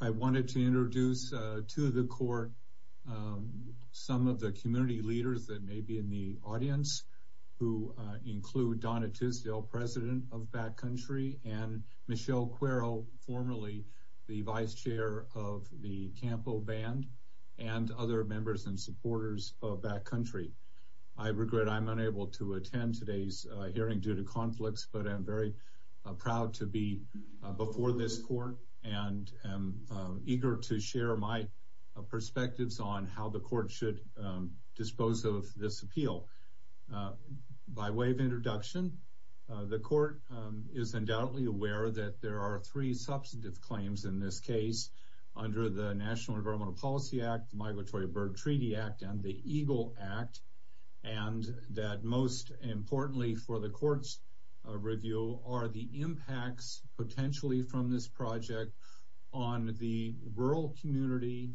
I wanted to introduce to the court some of the community leaders that may be in the audience who include Donna Tisdale, president of Backcountry, and Michelle Cuero, formerly the vice chair of the Campo Band, and other members and supporters of Backcountry. I regret I'm unable to attend today's hearing due to conflicts, but I'm very proud to be before this court and am eager to by way of introduction, the court is undoubtedly aware that there are three substantive claims in this case under the National Environmental Policy Act, the Migratory Bird Treaty Act, and the EGLE Act, and that most importantly for the court's review are the impacts potentially from this project on the rural community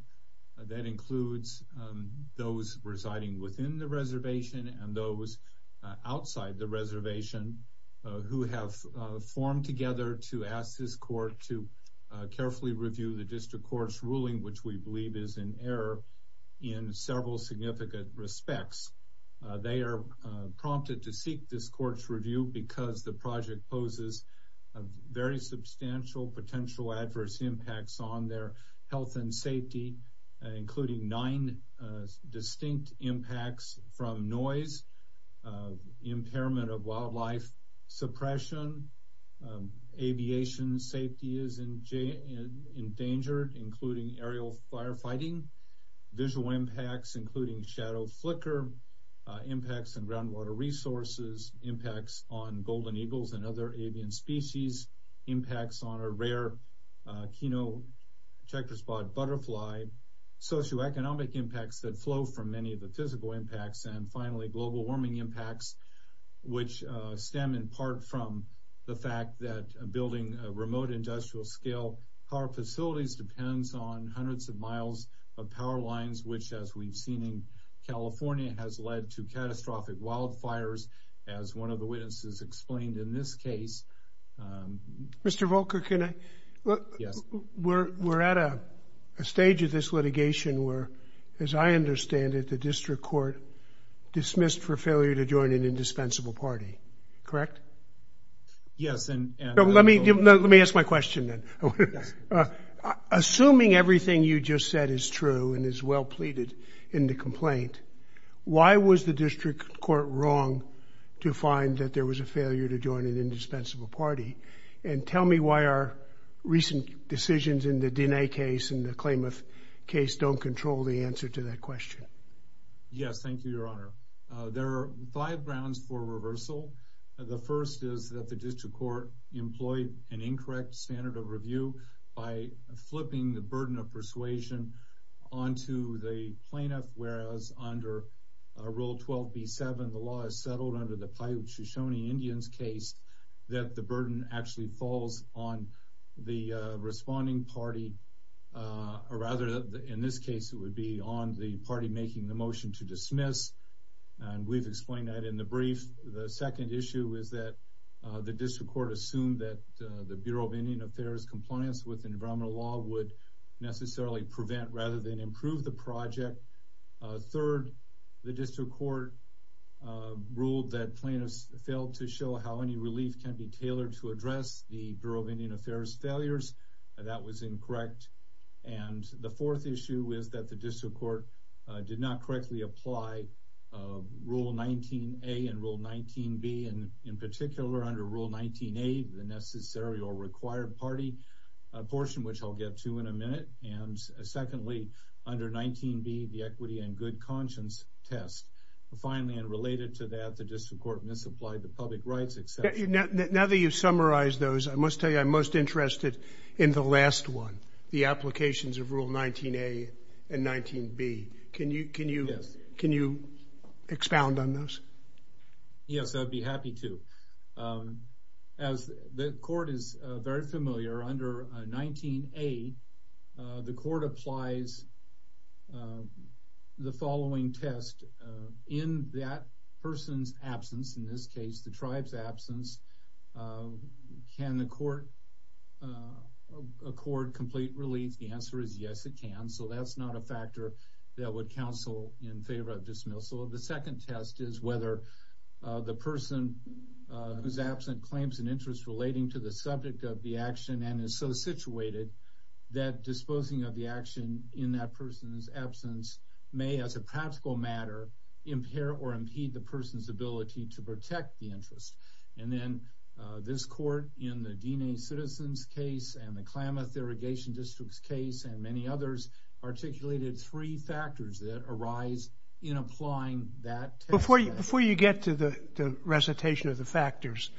that includes those residing within the reservation and those outside the reservation who have formed together to ask this court to carefully review the district court's ruling which we believe is in error in several significant respects. They are prompted to seek this court's review because the project poses very substantial potential adverse impacts on their health and safety including nine distinct impacts from noise, impairment of wildlife suppression, aviation safety is endangered including aerial firefighting, visual impacts including shadow flicker, impacts on groundwater resources, impacts on golden eagles and other avian species, impacts on a rare keno checkerspot butterfly, socioeconomic impacts that flow from many of the physical impacts, and finally global warming impacts which stem in part from the fact that building a remote industrial scale power facilities depends on hundreds of miles of power lines which as we've seen in California has led to catastrophic wildfires as one of the witnesses explained in this case. Mr. Volker, can I? Yes. We're at a stage of this litigation where as I understand it the district court dismissed for failure to join an indispensable party, correct? Yes. Let me ask my question then. Assuming everything you just said is true and is well pleaded in the complaint, why was the district court wrong to find that there was a failure to join an indispensable party and tell me why our recent decisions in the Diné case and the Klamath case don't control the answer to that question. Yes, thank you your honor. There are five grounds for reversal. The first is that the district court employed an incorrect standard of review by flipping the burden of persuasion onto the plaintiff whereas under rule 12b7 the law is actually falls on the responding party or rather in this case it would be on the party making the motion to dismiss and we've explained that in the brief. The second issue is that the district court assumed that the Bureau of Indian Affairs compliance with environmental law would necessarily prevent rather than improve the project. Third, the district court ruled that plaintiffs failed to show how any relief can be tailored to address the Bureau of Indian Affairs failures. That was incorrect. And the fourth issue is that the district court did not correctly apply rule 19a and rule 19b and in particular under rule 19a the necessary or required party, a portion which I'll get to in a minute, and secondly under 19b the equity and good conscience test. Finally and misapplied the public rights exception. Now that you've summarized those I must tell you I'm most interested in the last one, the applications of rule 19a and 19b. Can you expound on those? Yes, I'd be happy to. As the court is very familiar under 19a the court applies the following test. In that person's absence, in this case the tribe's absence, can the court accord complete relief? The answer is yes it can. So that's not a factor that would counsel in favor of dismissal. The second test is whether the person who's absent claims an interest relating to the subject of the action and is so situated that disposing of the action in that person's absence may as a practical matter impair or impede the person's ability to protect the interest. And then this court in the Diné citizens case and the Klamath Irrigation District's case and many others articulated three factors that arise in applying that test. Before you get to the recitation of the factors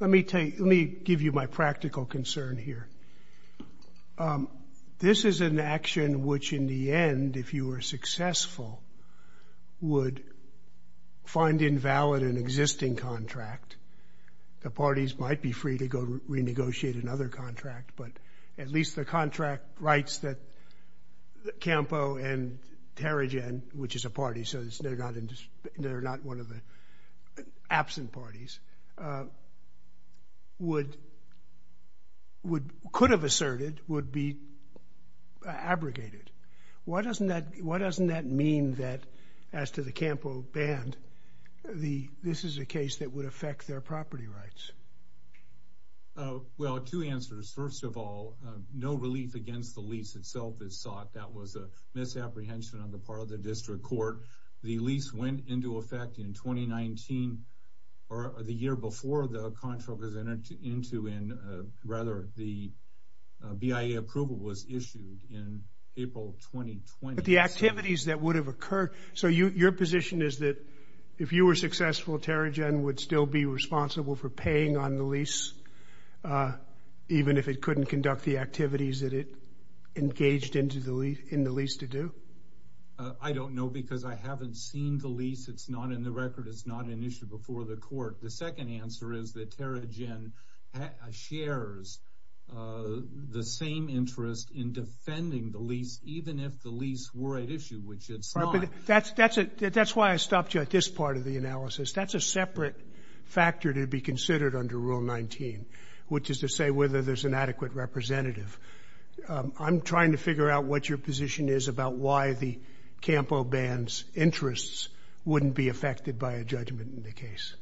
let me give you my practical concern here. This is an action which in the end if you were successful would find invalid an existing contract. The parties might be free to go renegotiate another contract but at least the contract writes that Campo and Terrigen, which is a party, so they're not one of the absent parties, could have asserted would be abrogated. Why doesn't that mean that as to the Campo band this is a case that would affect their property rights? Well two answers. First of all no relief against the lease itself is sought. That was a misapprehension on the part of the district court. The lease went into effect in 2019 or the year before the contract was entered into and rather the BIA approval was issued in April 2020. The activities that would have occurred, so your position is that if you were successful Terrigen would still be responsible for paying on the lease even if it couldn't conduct the activities that it engaged in the lease to do? I don't know because I haven't seen the lease. It's not in the record. It's not an issue before the court. The second answer is that Terrigen shares the same interest in defending the lease even if the lease were at issue, which it's not. That's why I stopped you at this part of the analysis. That's a separate factor to be considered under Rule 19, which is to say whether there's an adequate representative. I'm trying to figure out what your position is about why the Campo band's interests wouldn't be affected by a judgment in the case.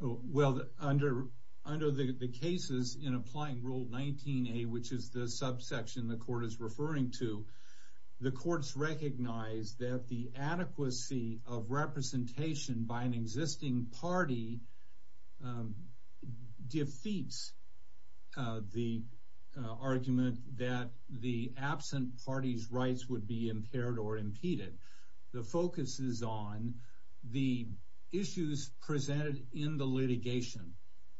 Well under the cases in applying Rule 19a, which is the subsection the court is referring to, the courts recognize that the adequacy of representation by an existing party defeats the argument that the absent party's rights would be impaired or impeded. The focus is on the issues presented in the litigation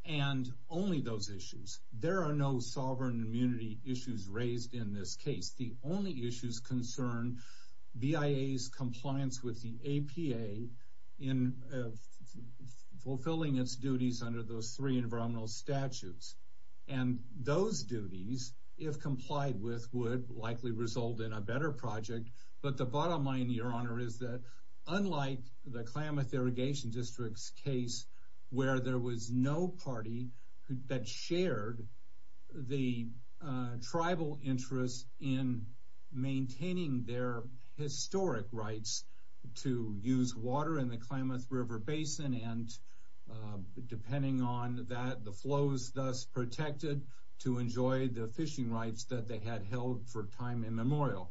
and only those issues. There are no sovereign immunity issues raised in this case. The only issues concern BIA's compliance with the APA in fulfilling its duties under those three environmental statutes. And those duties, if complied with, would likely result in a better project. But the bottom line, your honor, is that unlike the Klamath Irrigation District's case where there was no party that shared the tribal interest in maintaining their historic rights to use water in the Klamath River Basin and depending on that, the flows thus protected to enjoy the fishing rights that they had held for time immemorial.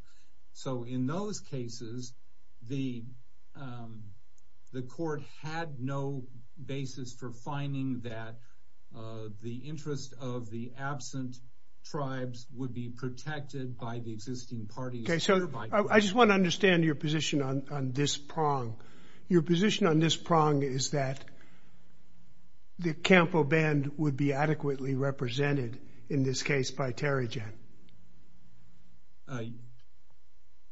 So in those cases, the court had no basis for finding that the interest of the absent tribes would be protected by the existing parties. Okay, so I just want to understand your position on this prong. Your position on this prong is that the Campo Band would be adequately represented in this case by Terry Jett.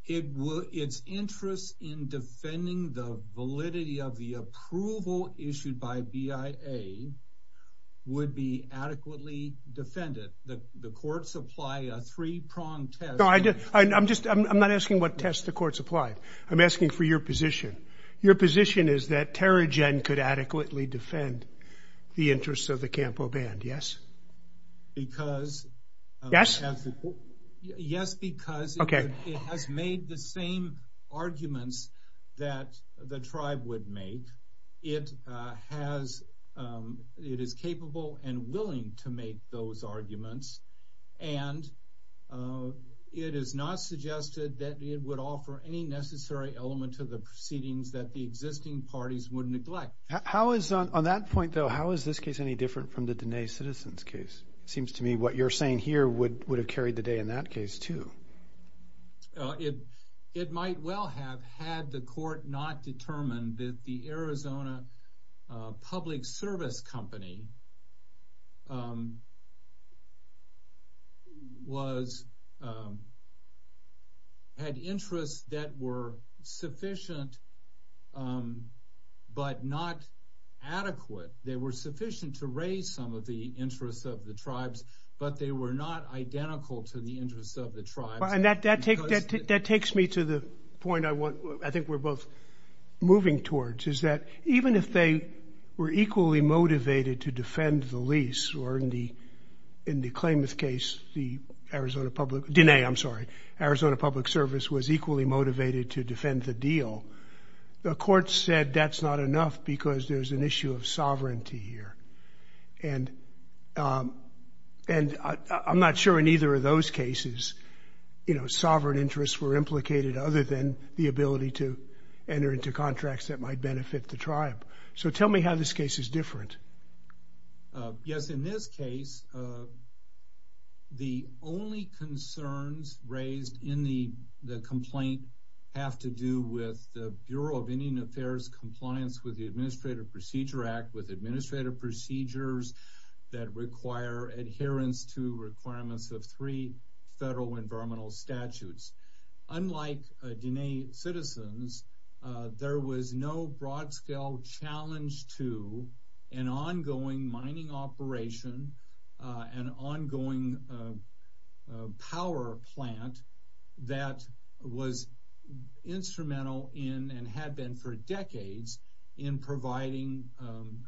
It's interest in defending the validity of the approval issued by BIA would be adequately defended. The courts apply a three-pronged test. No, I'm not asking what test the courts applied. I'm asking for your position. Your position is that Terry Jett could adequately defend the interests of the Campo Band, yes? Yes, because it has made the same arguments that the tribe would make. It is capable and willing to make those arguments and it is not suggested that it would offer any necessary element to the proceedings that the existing parties would neglect. On that point though, how is this case any different from the Diné Citizens case? It seems to me what you're saying here would have carried the day in that case too. It might well have had the court not determined that the Arizona Public Service Company had interests that were sufficient but not adequate. They were sufficient to raise some of the interests of the tribes, but they were not identical to the interests of the tribes. That takes me to the point I think we're both moving towards, is that even if they were equally motivated to defend the lease or in the Klamath case, the Arizona Public Service was equally motivated to defend the deal. The court said that's not enough because there's an issue of sovereignty here. I'm not sure in either of those cases, you know, sovereign interests were implicated other than the ability to enter into contracts that might benefit the tribe. So tell me how this case is different. Yes, in this case the only concerns raised in the complaint have to do with the Bureau of Indian Affairs compliance with the Administrative Procedure Act with administrative procedures that require adherence to requirements of three federal environmental statutes. Unlike Diné Citizens, there was no broad-scale challenge to an ongoing instrumental in, and had been for decades, in providing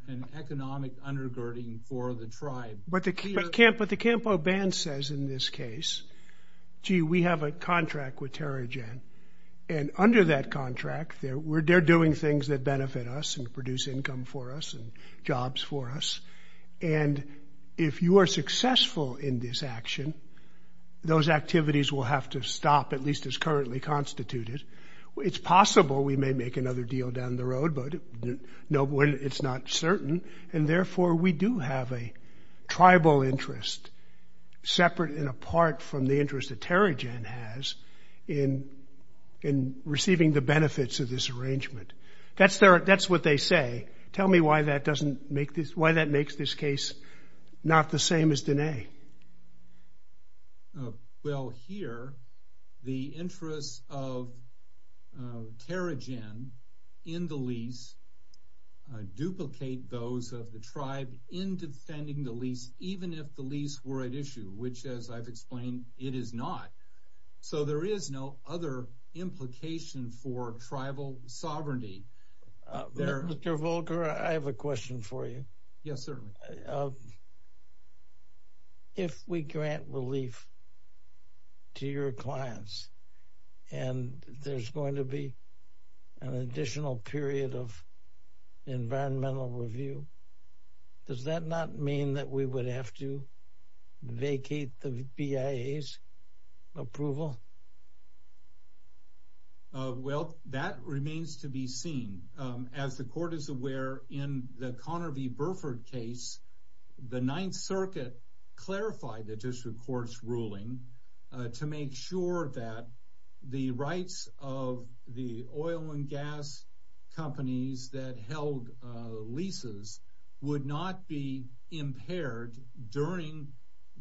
an economic undergirding for the tribe. But the Campo Band says in this case, gee, we have a contract with Terrigen, and under that contract they're doing things that benefit us and produce income for us and jobs for us, and if you are successful in this action, those activities will have to stop, at least as constituted. It's possible we may make another deal down the road, but it's not certain, and therefore we do have a tribal interest, separate and apart from the interest that Terrigen has in receiving the benefits of this arrangement. That's what they say. Tell me why that makes this case not the same as Diné. Well, here, the interests of Terrigen in the lease duplicate those of the tribe in defending the lease, even if the lease were at issue, which, as I've explained, it is not. So there is no other implication for tribal sovereignty. Mr. Volker, I have a question for you. Yes, certainly. If we grant relief to your clients and there's going to be an additional period of environmental review, does that not mean that we would have to vacate the BIA's approval? Well, that remains to be seen. As the Court is aware, in the Conner v. Burford case, the Ninth Circuit clarified the district court's ruling to make sure that the rights of the oil and gas companies that held leases would not be impaired during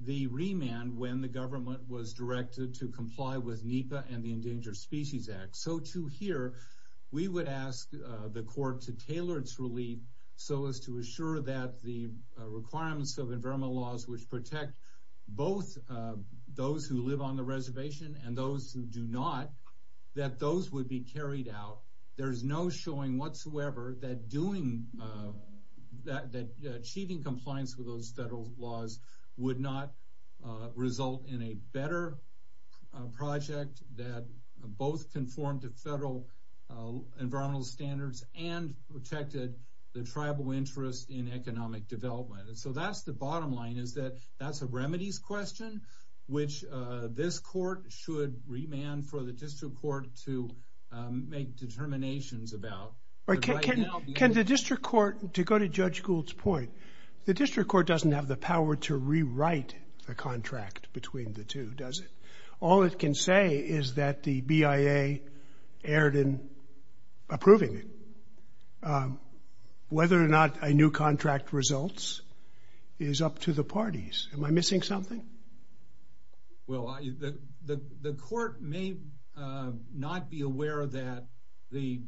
the remand when the government was directed to comply with NEPA and the Endangered Species Act. So, too, here, we would ask the Court to tailor its relief so as to assure that the requirements of environmental laws which protect both those who live on the reservation and those who do not, that those would be carried out. There is no showing whatsoever that achieving compliance with those federal laws would not result in a better project that both conform to federal environmental standards and protected the tribal interest in economic development. So that's the bottom line, is that that's a remedies question which this Court should remand for the district court to make determinations about. Can the district court, to go to Judge Gould's point, the district court doesn't have the power to rewrite the contract between the two, does it? All it can say is that the BIA erred in approving it. Whether or not a new contract results is up to the parties. Am I missing something? Well, the Court may not be aware that the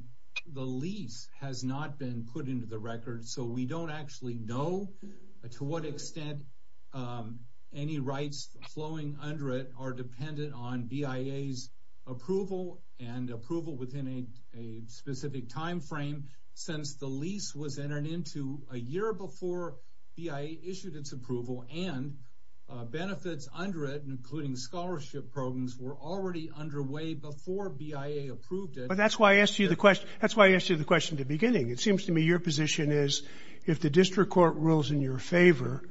lease has not been put into the record, so we don't actually know to what extent any rights flowing under it are dependent on BIA's approval and approval within a specific time frame since the lease was entered into a year before BIA issued its approval and benefits under it, including scholarship programs, were already underway before BIA approved it. But that's why I asked you the question at the beginning. It seems to me your position is if the district court rules in your favor,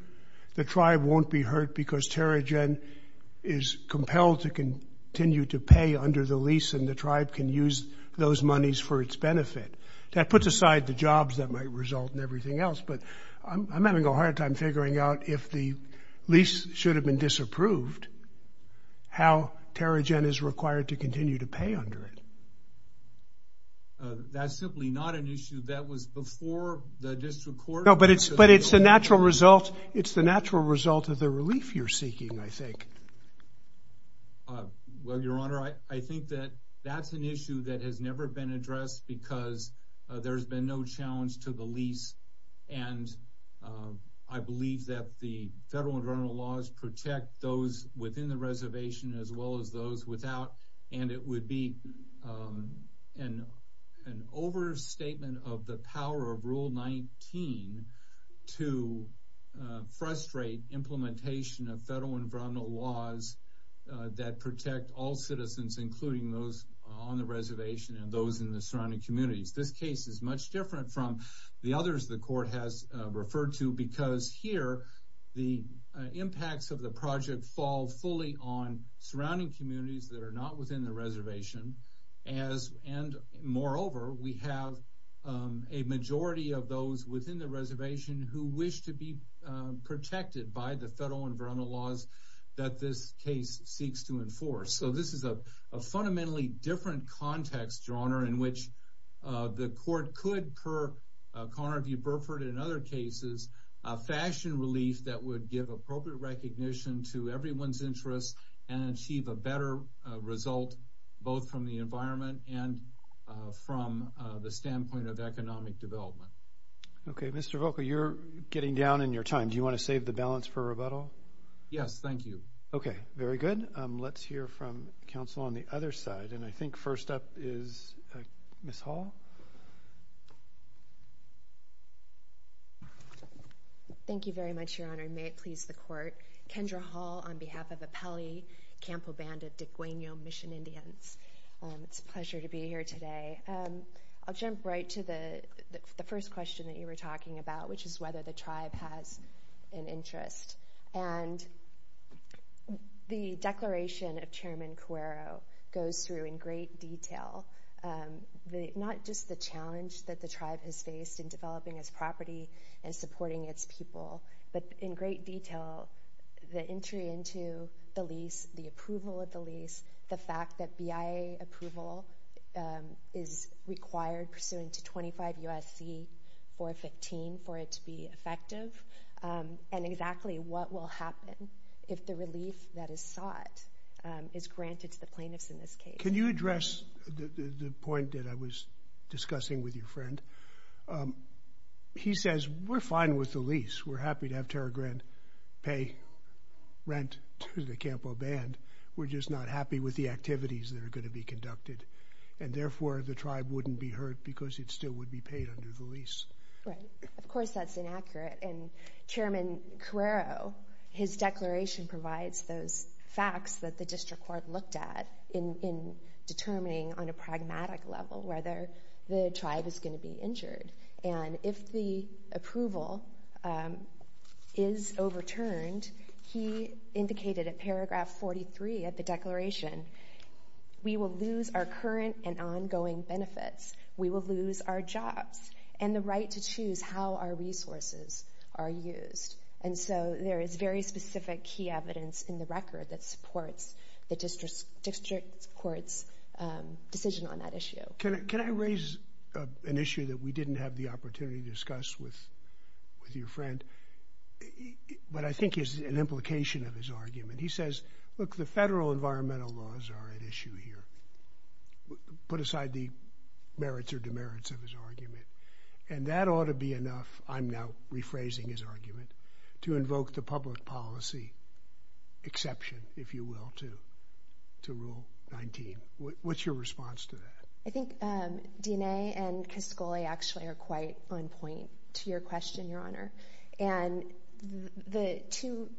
the tribe won't be hurt because Terrigen is compelled to continue to pay under the lease and the tribe can use those monies for its benefit. That puts aside the jobs that might but I'm having a hard time figuring out if the lease should have been disapproved, how Terrigen is required to continue to pay under it. That's simply not an issue that was before the district court. No, but it's a natural result. It's the natural result of the relief you're seeking, I think. Well, Your Honor, I think that that's an issue that has never been addressed because there's been no challenge to the lease. And I believe that the federal environmental laws protect those within the reservation as well as those without. And it would be an overstatement of the power of Rule 19 to frustrate implementation of federal environmental laws that protect all citizens, including those on the reservation and those in the communities. This case is much different from the others the court has referred to because here, the impacts of the project fall fully on surrounding communities that are not within the reservation. And moreover, we have a majority of those within the reservation who wish to be protected by the federal environmental laws that this case seeks to enforce. So this is a the court could, per Carnarvue-Burford and other cases, fashion relief that would give appropriate recognition to everyone's interests and achieve a better result, both from the environment and from the standpoint of economic development. Okay, Mr. Volkow, you're getting down in your time. Do you want to save the balance for rebuttal? Yes, thank you. Okay, very good. Let's hear from counsel on the other side. And I think first up is Ms. Hall. Thank you very much, Your Honor. May it please the court. Kendra Hall on behalf of Apelli Campobanda Degueno Mission Indians. It's a pleasure to be here today. I'll jump right to the first question that you were talking about, which is whether the tribe has an interest. And the declaration of Chairman Cuero goes through in great detail, not just the challenge that the tribe has faced in developing its property and supporting its people, but in great detail, the entry into the lease, the approval of the lease, the fact that BIA approval is required pursuant to 25 U.S.C. 415 for it to be effective, and exactly what will happen if the relief that is sought is granted to the plaintiffs in this case. Can you address the point that I was discussing with your friend? He says, we're fine with the lease. We're happy to have Terra Grande pay rent to the Campoband. We're just not happy with the activities that are going to be conducted. And therefore, the tribe wouldn't be hurt because it still would be paid under the lease. Right. Of course, that's inaccurate. And Chairman Cuero, his declaration provides those facts that the district court looked at in determining on a pragmatic level whether the tribe is going to be injured. And if the approval is overturned, he indicated in paragraph 43 of the declaration, we will lose our current and ongoing benefits. We will lose our jobs and the right to choose how our resources are used. And so, there is very specific key evidence in the record that supports the district court's decision on that issue. Can I raise an issue that we didn't have the opportunity to discuss with your friend, but I think is an implication of his argument. He says, look, the federal environmental laws are at issue here. Put aside the merits or demerits of his argument. And that ought to be enough, I'm now rephrasing his argument, to invoke the public policy exception, if you will, to Rule 19. What's your response to that? I think DNA and Cascoli actually are quite on point to your question, Your Honor. And the two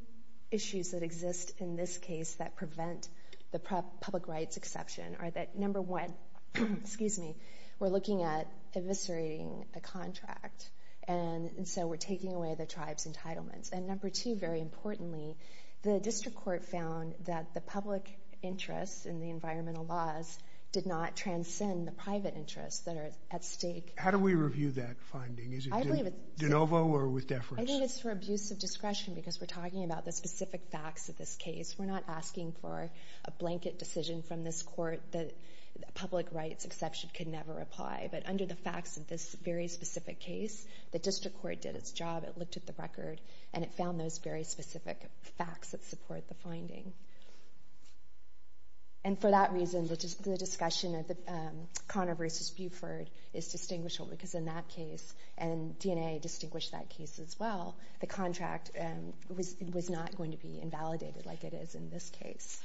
issues that exist in this case that prevent the public rights exception are that, number one, we're looking at eviscerating a contract, and so we're taking away the tribe's entitlements. And number two, very importantly, the district court found that the public interests in the environmental laws did not transcend the private interests that are at stake. How do we review that finding? Is it de novo or with deference? I think it's for abuse of discretion because we're talking about the specific facts of this case. We're not asking for a blanket decision from this court that the public rights exception could never apply. But under the facts of this very specific case, the district court did its job. It looked at the record, and it found those very specific facts that support the finding. And for that reason, the discussion of Connor versus Buford is distinguishable because in that case, and DNA distinguished that case as well, the contract was not going to be invalidated like it is in this case.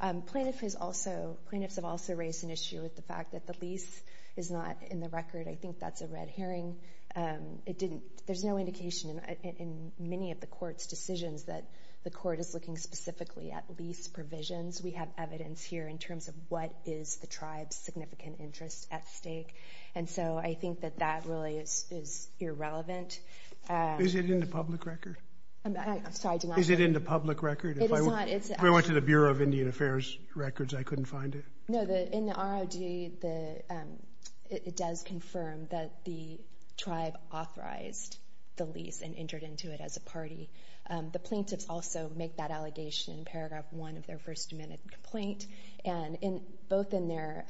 Plaintiffs have also raised an issue with the fact that the lease is not in the record. I think that's a red herring. There's no indication in many of the court's decisions that the court is looking specifically at lease provisions. We have evidence here in terms of what is the tribe's significant interest at stake. And so I think that really is irrelevant. Is it in the public record? I'm sorry. Is it in the public record? If I went to the Bureau of Indian Affairs records, I couldn't find it. No, in the ROD, it does confirm that the tribe authorized the lease and entered into it as a party. The plaintiffs also make that allegation in paragraph one of their first amendment complaint. And both in their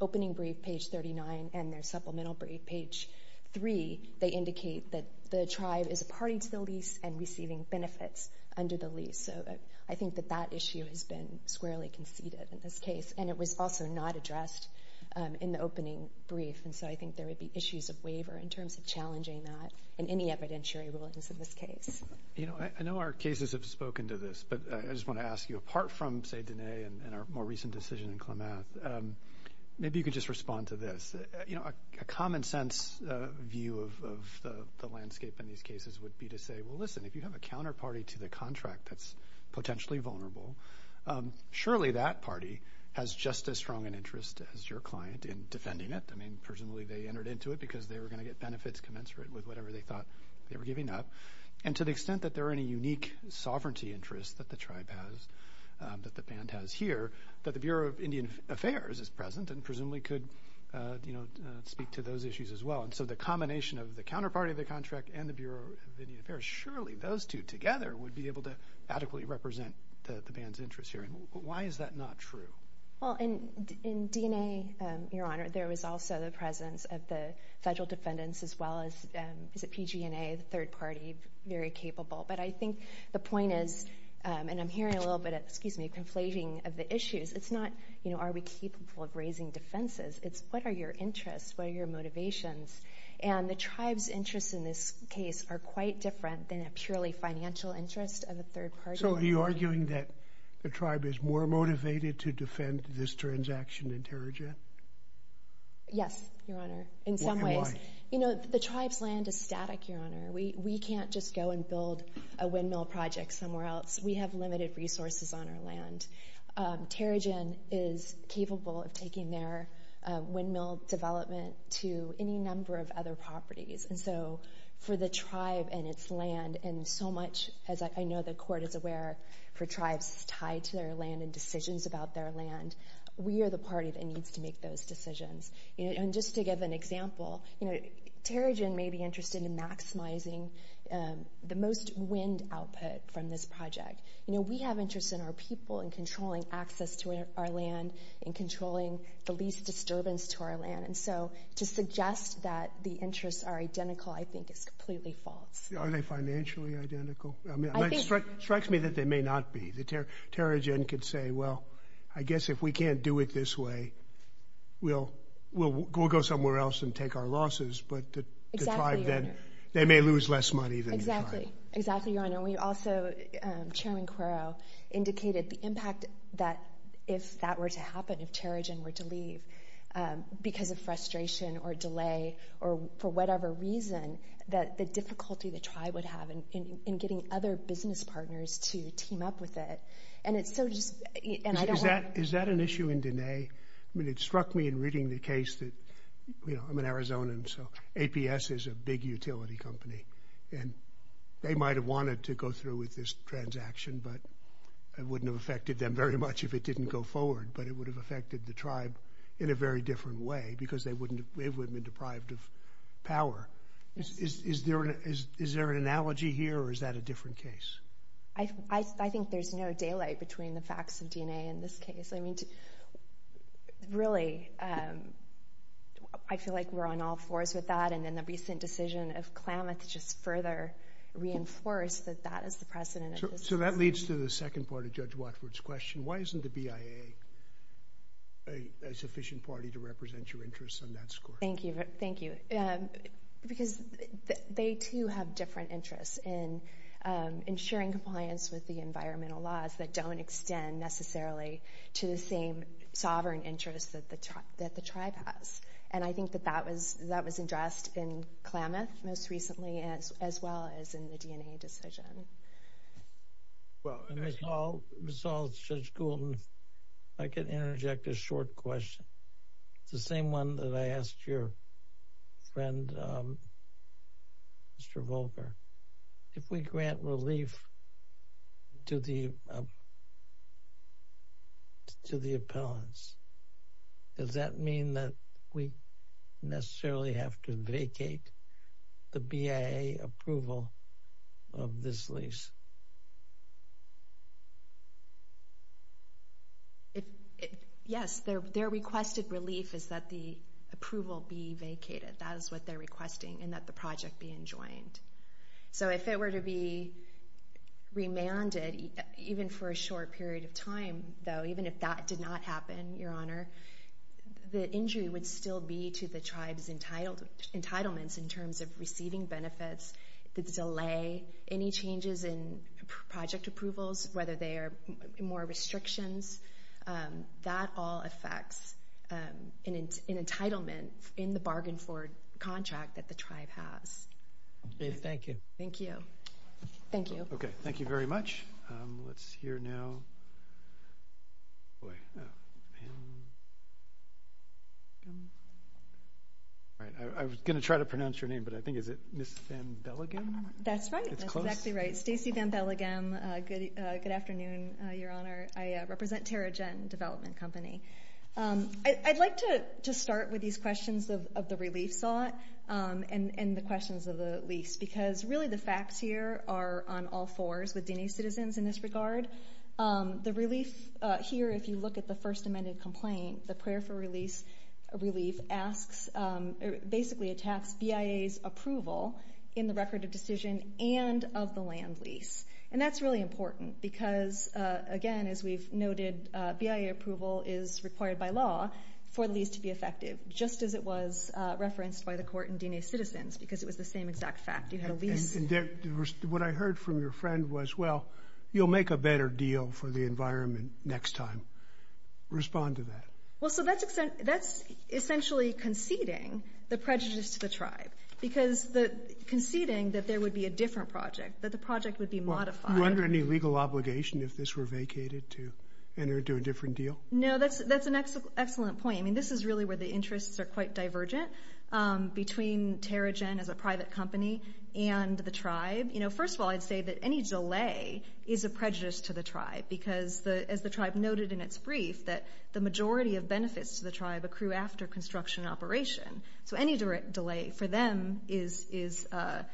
opening brief, page 39, and their supplemental brief, page three, they indicate that the tribe is a party to the lease and receiving benefits under the lease. So I think that that issue has been squarely conceded in this case. And it was also not addressed in the opening brief. And so I think there would be issues of waiver in terms of challenging that in any evidentiary rulings in this case. You know, I know our cases have spoken to this, but I just want to ask you, apart from, and our more recent decision in Klamath, maybe you could just respond to this. You know, a common sense view of the landscape in these cases would be to say, well, listen, if you have a counterparty to the contract that's potentially vulnerable, surely that party has just as strong an interest as your client in defending it. I mean, personally, they entered into it because they were going to get benefits commensurate with whatever they thought they were giving up. And to the extent that there are any unique sovereignty interests that the tribe has, that the band has here, that the Bureau of Indian Affairs is present and presumably could, you know, speak to those issues as well. And so the combination of the counterparty of the contract and the Bureau of Indian Affairs, surely those two together would be able to adequately represent the band's interest here. Why is that not true? Well, in DNA, Your Honor, there was also the presence of the I think the point is, and I'm hearing a little bit, excuse me, conflating of the issues. It's not, you know, are we capable of raising defenses? It's what are your interests? What are your motivations? And the tribe's interests in this case are quite different than a purely financial interest of a third party. So are you arguing that the tribe is more motivated to defend this transaction in Terija? Yes, Your Honor, in some ways. You know, the tribe's land is static, Your Honor. We can't just go and build a windmill project somewhere else. We have limited resources on our land. Terijan is capable of taking their windmill development to any number of other properties. And so for the tribe and its land, and so much, as I know the Court is aware, for tribes tied to their land and decisions about their land, we are the party that needs to make those decisions. You know, and just to give an example, you know, Terijan may be interested in maximizing the most wind output from this project. You know, we have interest in our people and controlling access to our land and controlling the least disturbance to our land. And so to suggest that the interests are identical, I think is completely false. Are they financially identical? I mean, it strikes me that they may not be. Terijan could say, well, I guess if we can't do it this way, we'll go somewhere else and take our losses. But the tribe then, they may lose less money than the tribe. Exactly, Your Honor. We also, Chairman Cuero, indicated the impact that if that were to happen, if Terijan were to leave, because of frustration or delay or for whatever reason, that the difficulty the tribe would have in getting other business partners to team up with it. And it's so just... Is that an issue in Diné? I mean, it struck me in reading the case that, you know, I'm an Arizonan, so APS is a big utility company. And they might have wanted to go through with this transaction, but it wouldn't have affected them very much if it didn't go forward. But it would have affected the tribe in a very different way, because they wouldn't have been deprived of power. Is there an analogy here, or is that a different case? I think there's no daylight between the facts of Diné and this case. I mean, really, I feel like we're on all fours with that. And then the recent decision of Klamath just further reinforced that that is the precedent. So that leads to the second part of Judge Watford's question. Why isn't the BIA a sufficient party to represent your interests on that score? Thank you. Thank you. Because they too have different interests in ensuring compliance with the environmental laws that don't extend necessarily to the same sovereign interests that the tribe has. And I think that that was addressed in Klamath most recently, as well as in the Diné decision. Well, Ms. Hall, Judge Goulden, if I could interject a short question. It's the same one that I asked your friend, Mr. Volker. If we grant relief to the appellants, does that mean that we necessarily have to vacate the BIA approval of this lease? Yes. Their requested relief is that the approval be vacated. That is what they're requesting, and that the project be enjoined. So if it were to be remanded, even for a short period of time, though, even if that did not happen, Your Honor, the injury would still be to the tribe's project approvals, whether they are more restrictions. That all affects an entitlement in the bargain for contract that the tribe has. Thank you. Thank you. Thank you. Okay. Thank you very much. Let's hear now... All right. I was going to try to pronounce your name, but I think, is it Ms. Van Belligan? That's right. That's exactly right. Stacey Van Belligan. Good afternoon, Your Honor. I represent Tara Jen Development Company. I'd like to start with these questions of the relief sought and the questions of the lease, because really, the facts here are on all fours with Dineen citizens in this regard. The relief here, if you look at the first amended complaint, the prayer for relief basically attacks BIA's approval in the record of decision and of the land lease. And that's really important, because again, as we've noted, BIA approval is required by law for the lease to be effective, just as it was referenced by the court in Dineen citizens, because it was the same exact fact. You had a lease... What I heard from your friend was, well, you'll make a better deal for the environment next time. Respond to that. Well, so that's essentially conceding the prejudice to the tribe, because conceding that there would be a different project, that the project would be modified. You're under any legal obligation if this were vacated to enter into a different deal? No, that's an excellent point. I mean, this is really where the interests are quite divergent between Tara Jen as a private company and the tribe. First of all, I'd say that any delay is a prejudice to the tribe, because as the tribe noted in its brief, that the majority of benefits to the tribe accrue after construction and operation. So any delay for them is a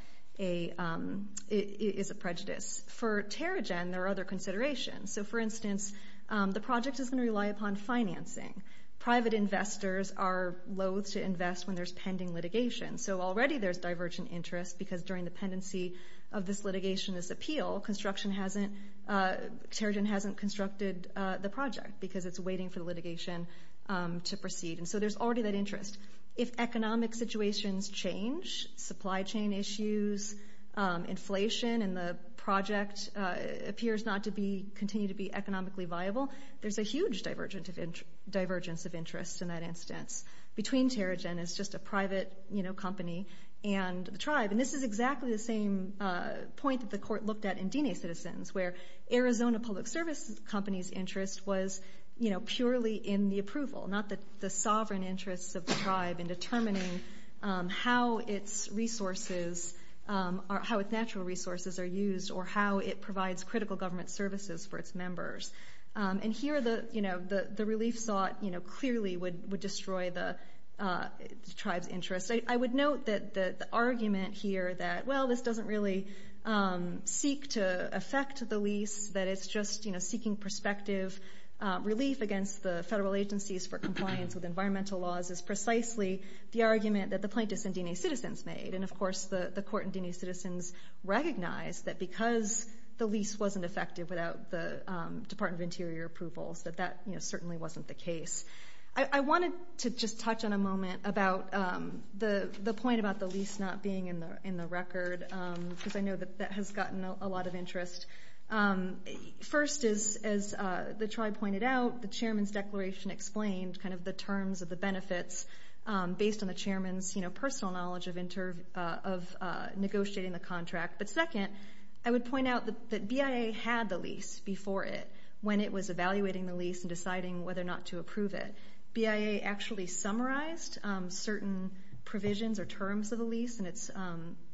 prejudice. For Tara Jen, there are other considerations. So for instance, the project is going to rely upon financing. Private investors are loath to invest when there's pending litigation. So already there's divergent interest, because during the pendency of this litigation, this appeal, Tara Jen hasn't constructed the project, because it's waiting for the litigation to proceed. And so there's already that interest. If economic situations change, supply chain issues, inflation, and the project appears not to continue to be economically viable, there's a huge divergence of interest in that instance between Tara Jen as just a private company and the tribe. And this is exactly the same point that the court looked at in Dine Citizens, where Arizona Public Service Company's interest was purely in the approval, not the sovereign interests of the tribe in determining how its natural resources are used or how it provides critical government services for its members. And here, the relief sought clearly would destroy the lease. I would note that the argument here that, well, this doesn't really seek to affect the lease, that it's just seeking perspective relief against the federal agencies for compliance with environmental laws is precisely the argument that the plaintiffs in Dine Citizens made. And of course, the court in Dine Citizens recognized that because the lease wasn't effective without the Department of Interior approvals, that that certainly wasn't the case. I wanted to just touch on a moment about the point about the lease not being in the record, because I know that that has gotten a lot of interest. First, as the tribe pointed out, the chairman's declaration explained kind of the terms of the benefits based on the chairman's personal knowledge of negotiating the contract. But second, I would point out that BIA had the lease before it when it was evaluating the lease and deciding whether or not to approve it. BIA actually summarized certain provisions or terms of the lease in its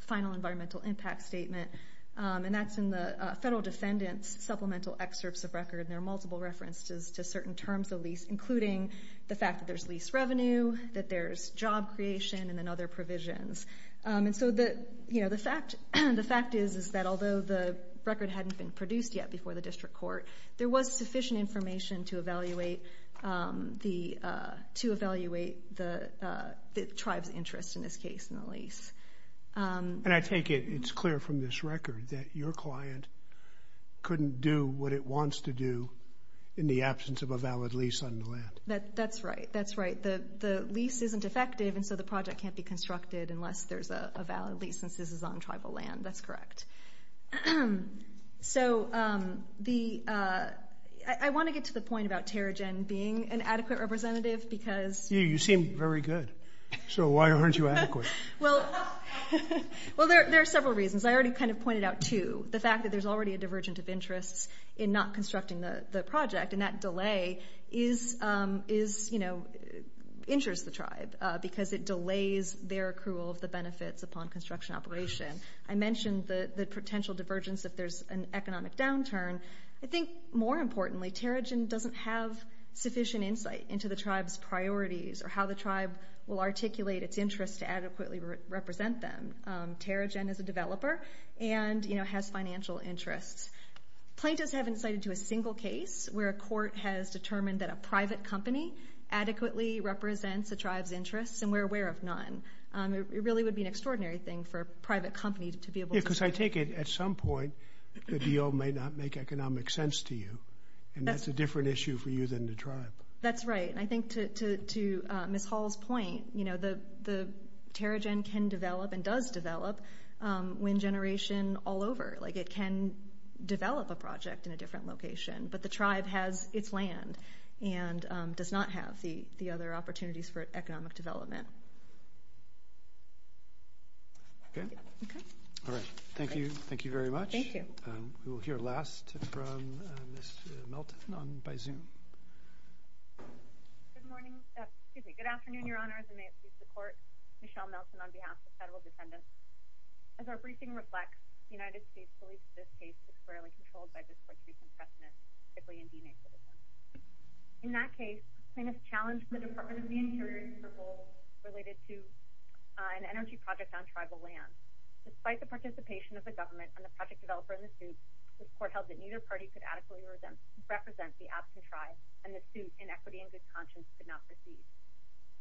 final environmental impact statement, and that's in the federal defendant's supplemental excerpts of record. There are multiple references to certain terms of lease, including the fact that there's lease revenue, that there's job creation, and then other provisions. And so the fact is that although the record hadn't been produced yet before the district court, there was sufficient information to evaluate the tribe's interest in this case in the lease. And I take it it's clear from this record that your client couldn't do what it wants to do in the absence of a valid lease on the land. That's right, that's right. The lease isn't effective, and so the project can't be constructed unless there's a valid lease, since this is on I want to get to the point about Terrigen being an adequate representative because... Yeah, you seem very good. So why aren't you adequate? Well, there are several reasons. I already kind of pointed out two. The fact that there's already a divergent of interests in not constructing the project, and that delay injures the tribe because it delays their accrual of the benefits upon construction operation. I mentioned the more importantly, Terrigen doesn't have sufficient insight into the tribe's priorities, or how the tribe will articulate its interest to adequately represent them. Terrigen is a developer and has financial interests. Plaintiffs haven't cited to a single case where a court has determined that a private company adequately represents the tribe's interests, and we're aware of none. It really would be an extraordinary thing for a private company to be able to... Because I take it, at some point, the deal may not make economic sense to you, and that's a different issue for you than the tribe. That's right, and I think to Ms. Hall's point, the Terrigen can develop and does develop when generation all over. It can develop a project in a different location, but the tribe has its land and does not have the other opportunities for economic development. Okay. Okay. All right. Thank you. Thank you very much. We will hear last from Ms. Melton by Zoom. Good morning... Excuse me. Good afternoon, Your Honor, as I may please the court. Michelle Melton on behalf of the federal defendants. As our briefing reflects, the United States believes this case is fairly controlled by this court's recent precedent, particularly in DNA criticism. In that case, plaintiffs challenge the Department of the related to an energy project on tribal land. Despite the participation of the government and the project developer in the suit, this court held that neither party could adequately represent the absent tribe, and the suit in equity and good conscience could not proceed.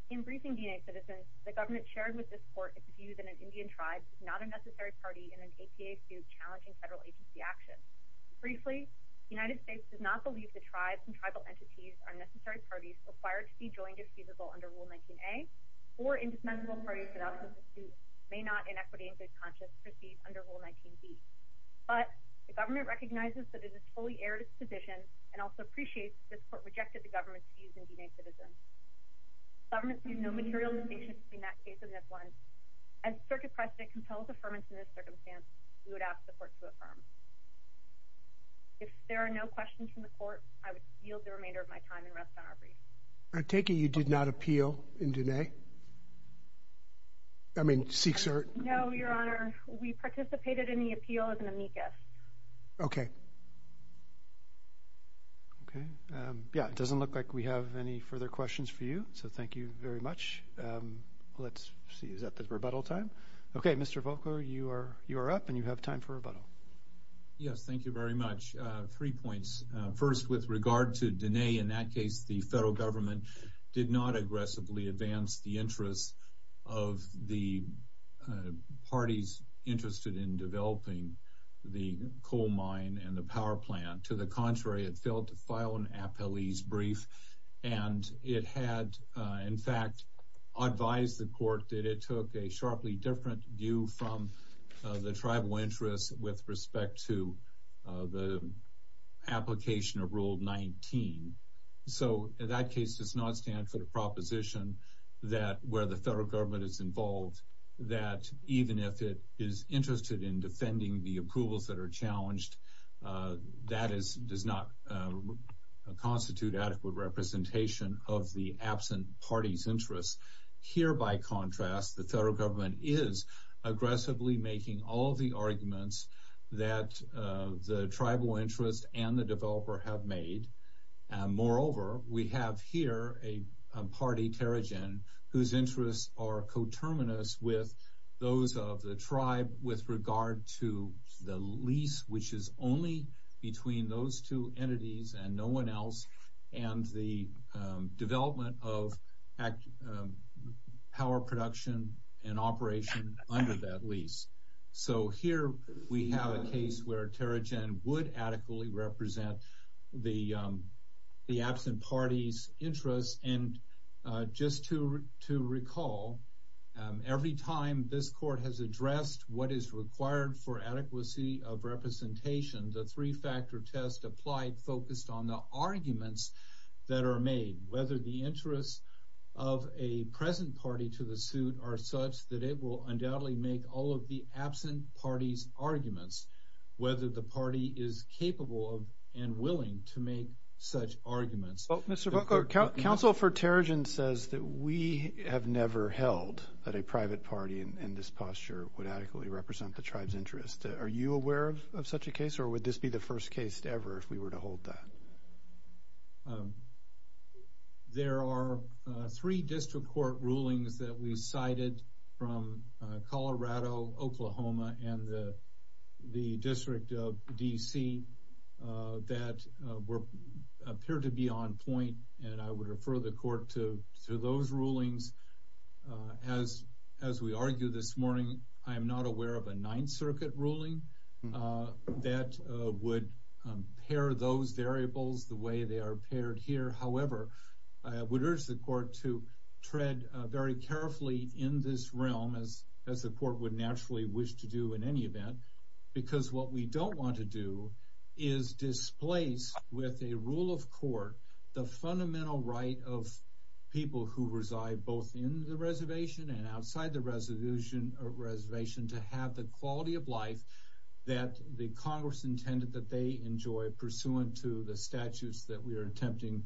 In briefing DNA citizens, the government shared with this court its view that an Indian tribe is not a necessary party in an APA suit challenging federal agency action. Briefly, the United States does not believe the tribes and tribal entities are necessary parties required to be joined if or indispensable parties may not in equity and good conscience proceed under Rule 19B. But the government recognizes that it is a totally erroneous position, and also appreciates this court rejected the government's views in DNA citizens. Government sees no material distinction between that case and this one. As circuit precedent compels affirmance in this circumstance, we would ask the court to affirm. If there are no questions from the court, I would yield the remainder of my time and rest on our taking. You did not appeal in DNA. I mean, seek cert. No, Your Honor. We participated in the appeal as an amicus. Okay. Okay. Yeah, it doesn't look like we have any further questions for you. So thank you very much. Let's see. Is that the rebuttal time? Okay, Mr Volcker, you are you're up and you have time for rebuttal. Yes, thank you very much. Three points. First, with regard to DNA, in that case, the federal government did not aggressively advance the interests of the parties interested in developing the coal mine and the power plant. To the contrary, it failed to file an appellee's brief, and it had, in fact, advised the court that it took a sharply different view from the tribal interests with respect to the application of Rule 19. So that case does not stand for the proposition that where the federal government is involved that even if it is interested in defending the approvals that are challenged, that does not constitute adequate representation of the absent parties' interests. Here, by contrast, the federal government is aggressively making all of the arguments that the tribal interest and the developer have made. Moreover, we have here a party, Terrigen, whose interests are coterminous with those of the tribe with regard to the lease, which is only between those two entities and no one else, and the lease. So here we have a case where Terrigen would adequately represent the absent parties' interests. And just to recall, every time this court has addressed what is required for adequacy of representation, the three-factor test applied focused on the arguments that are made, whether the interests of a present party to the suit are such that it will undoubtedly make all of the absent parties' arguments, whether the party is capable and willing to make such arguments. Well, Mr. Booker, counsel for Terrigen says that we have never held that a private party in this posture would adequately represent the tribe's interests. Are you aware of such a case, or would this be the first case ever if we were to hold that? There are three district court rulings that we cited from Colorado, Oklahoma, and the District of D.C. that appear to be on point, and I would refer the court to those rulings. As we argue this morning, I am not aware of a Ninth Circuit ruling that would pair those variables the way they are paired here. However, I would urge the court to tread very carefully in this realm, as the court would naturally wish to do in any event, because what we don't want to do is displace with a rule of court the fundamental right of people who reside both in the reservation and outside the reservation to have the quality of life that the Congress intended that they enjoy pursuant to the statutes that we are attempting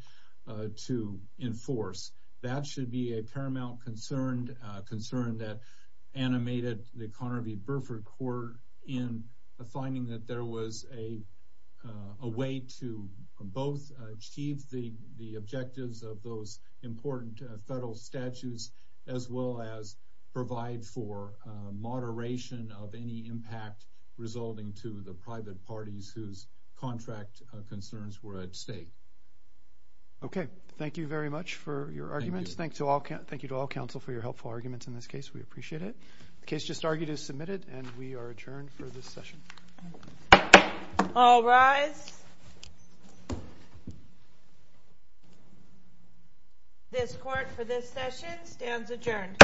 to enforce. That should be a paramount concern that animated the Conner v. Burford court in the finding that there was a way to both achieve the objectives of those important federal statutes as well as provide for moderation of any impact resulting to the private parties whose contract concerns were at stake. Okay, thank you very much for your arguments. Thank you to all counsel for your helpful arguments in this case. We appreciate it. The case just argued is submitted, and we are adjourned for this session. All rise. This court for this session stands adjourned.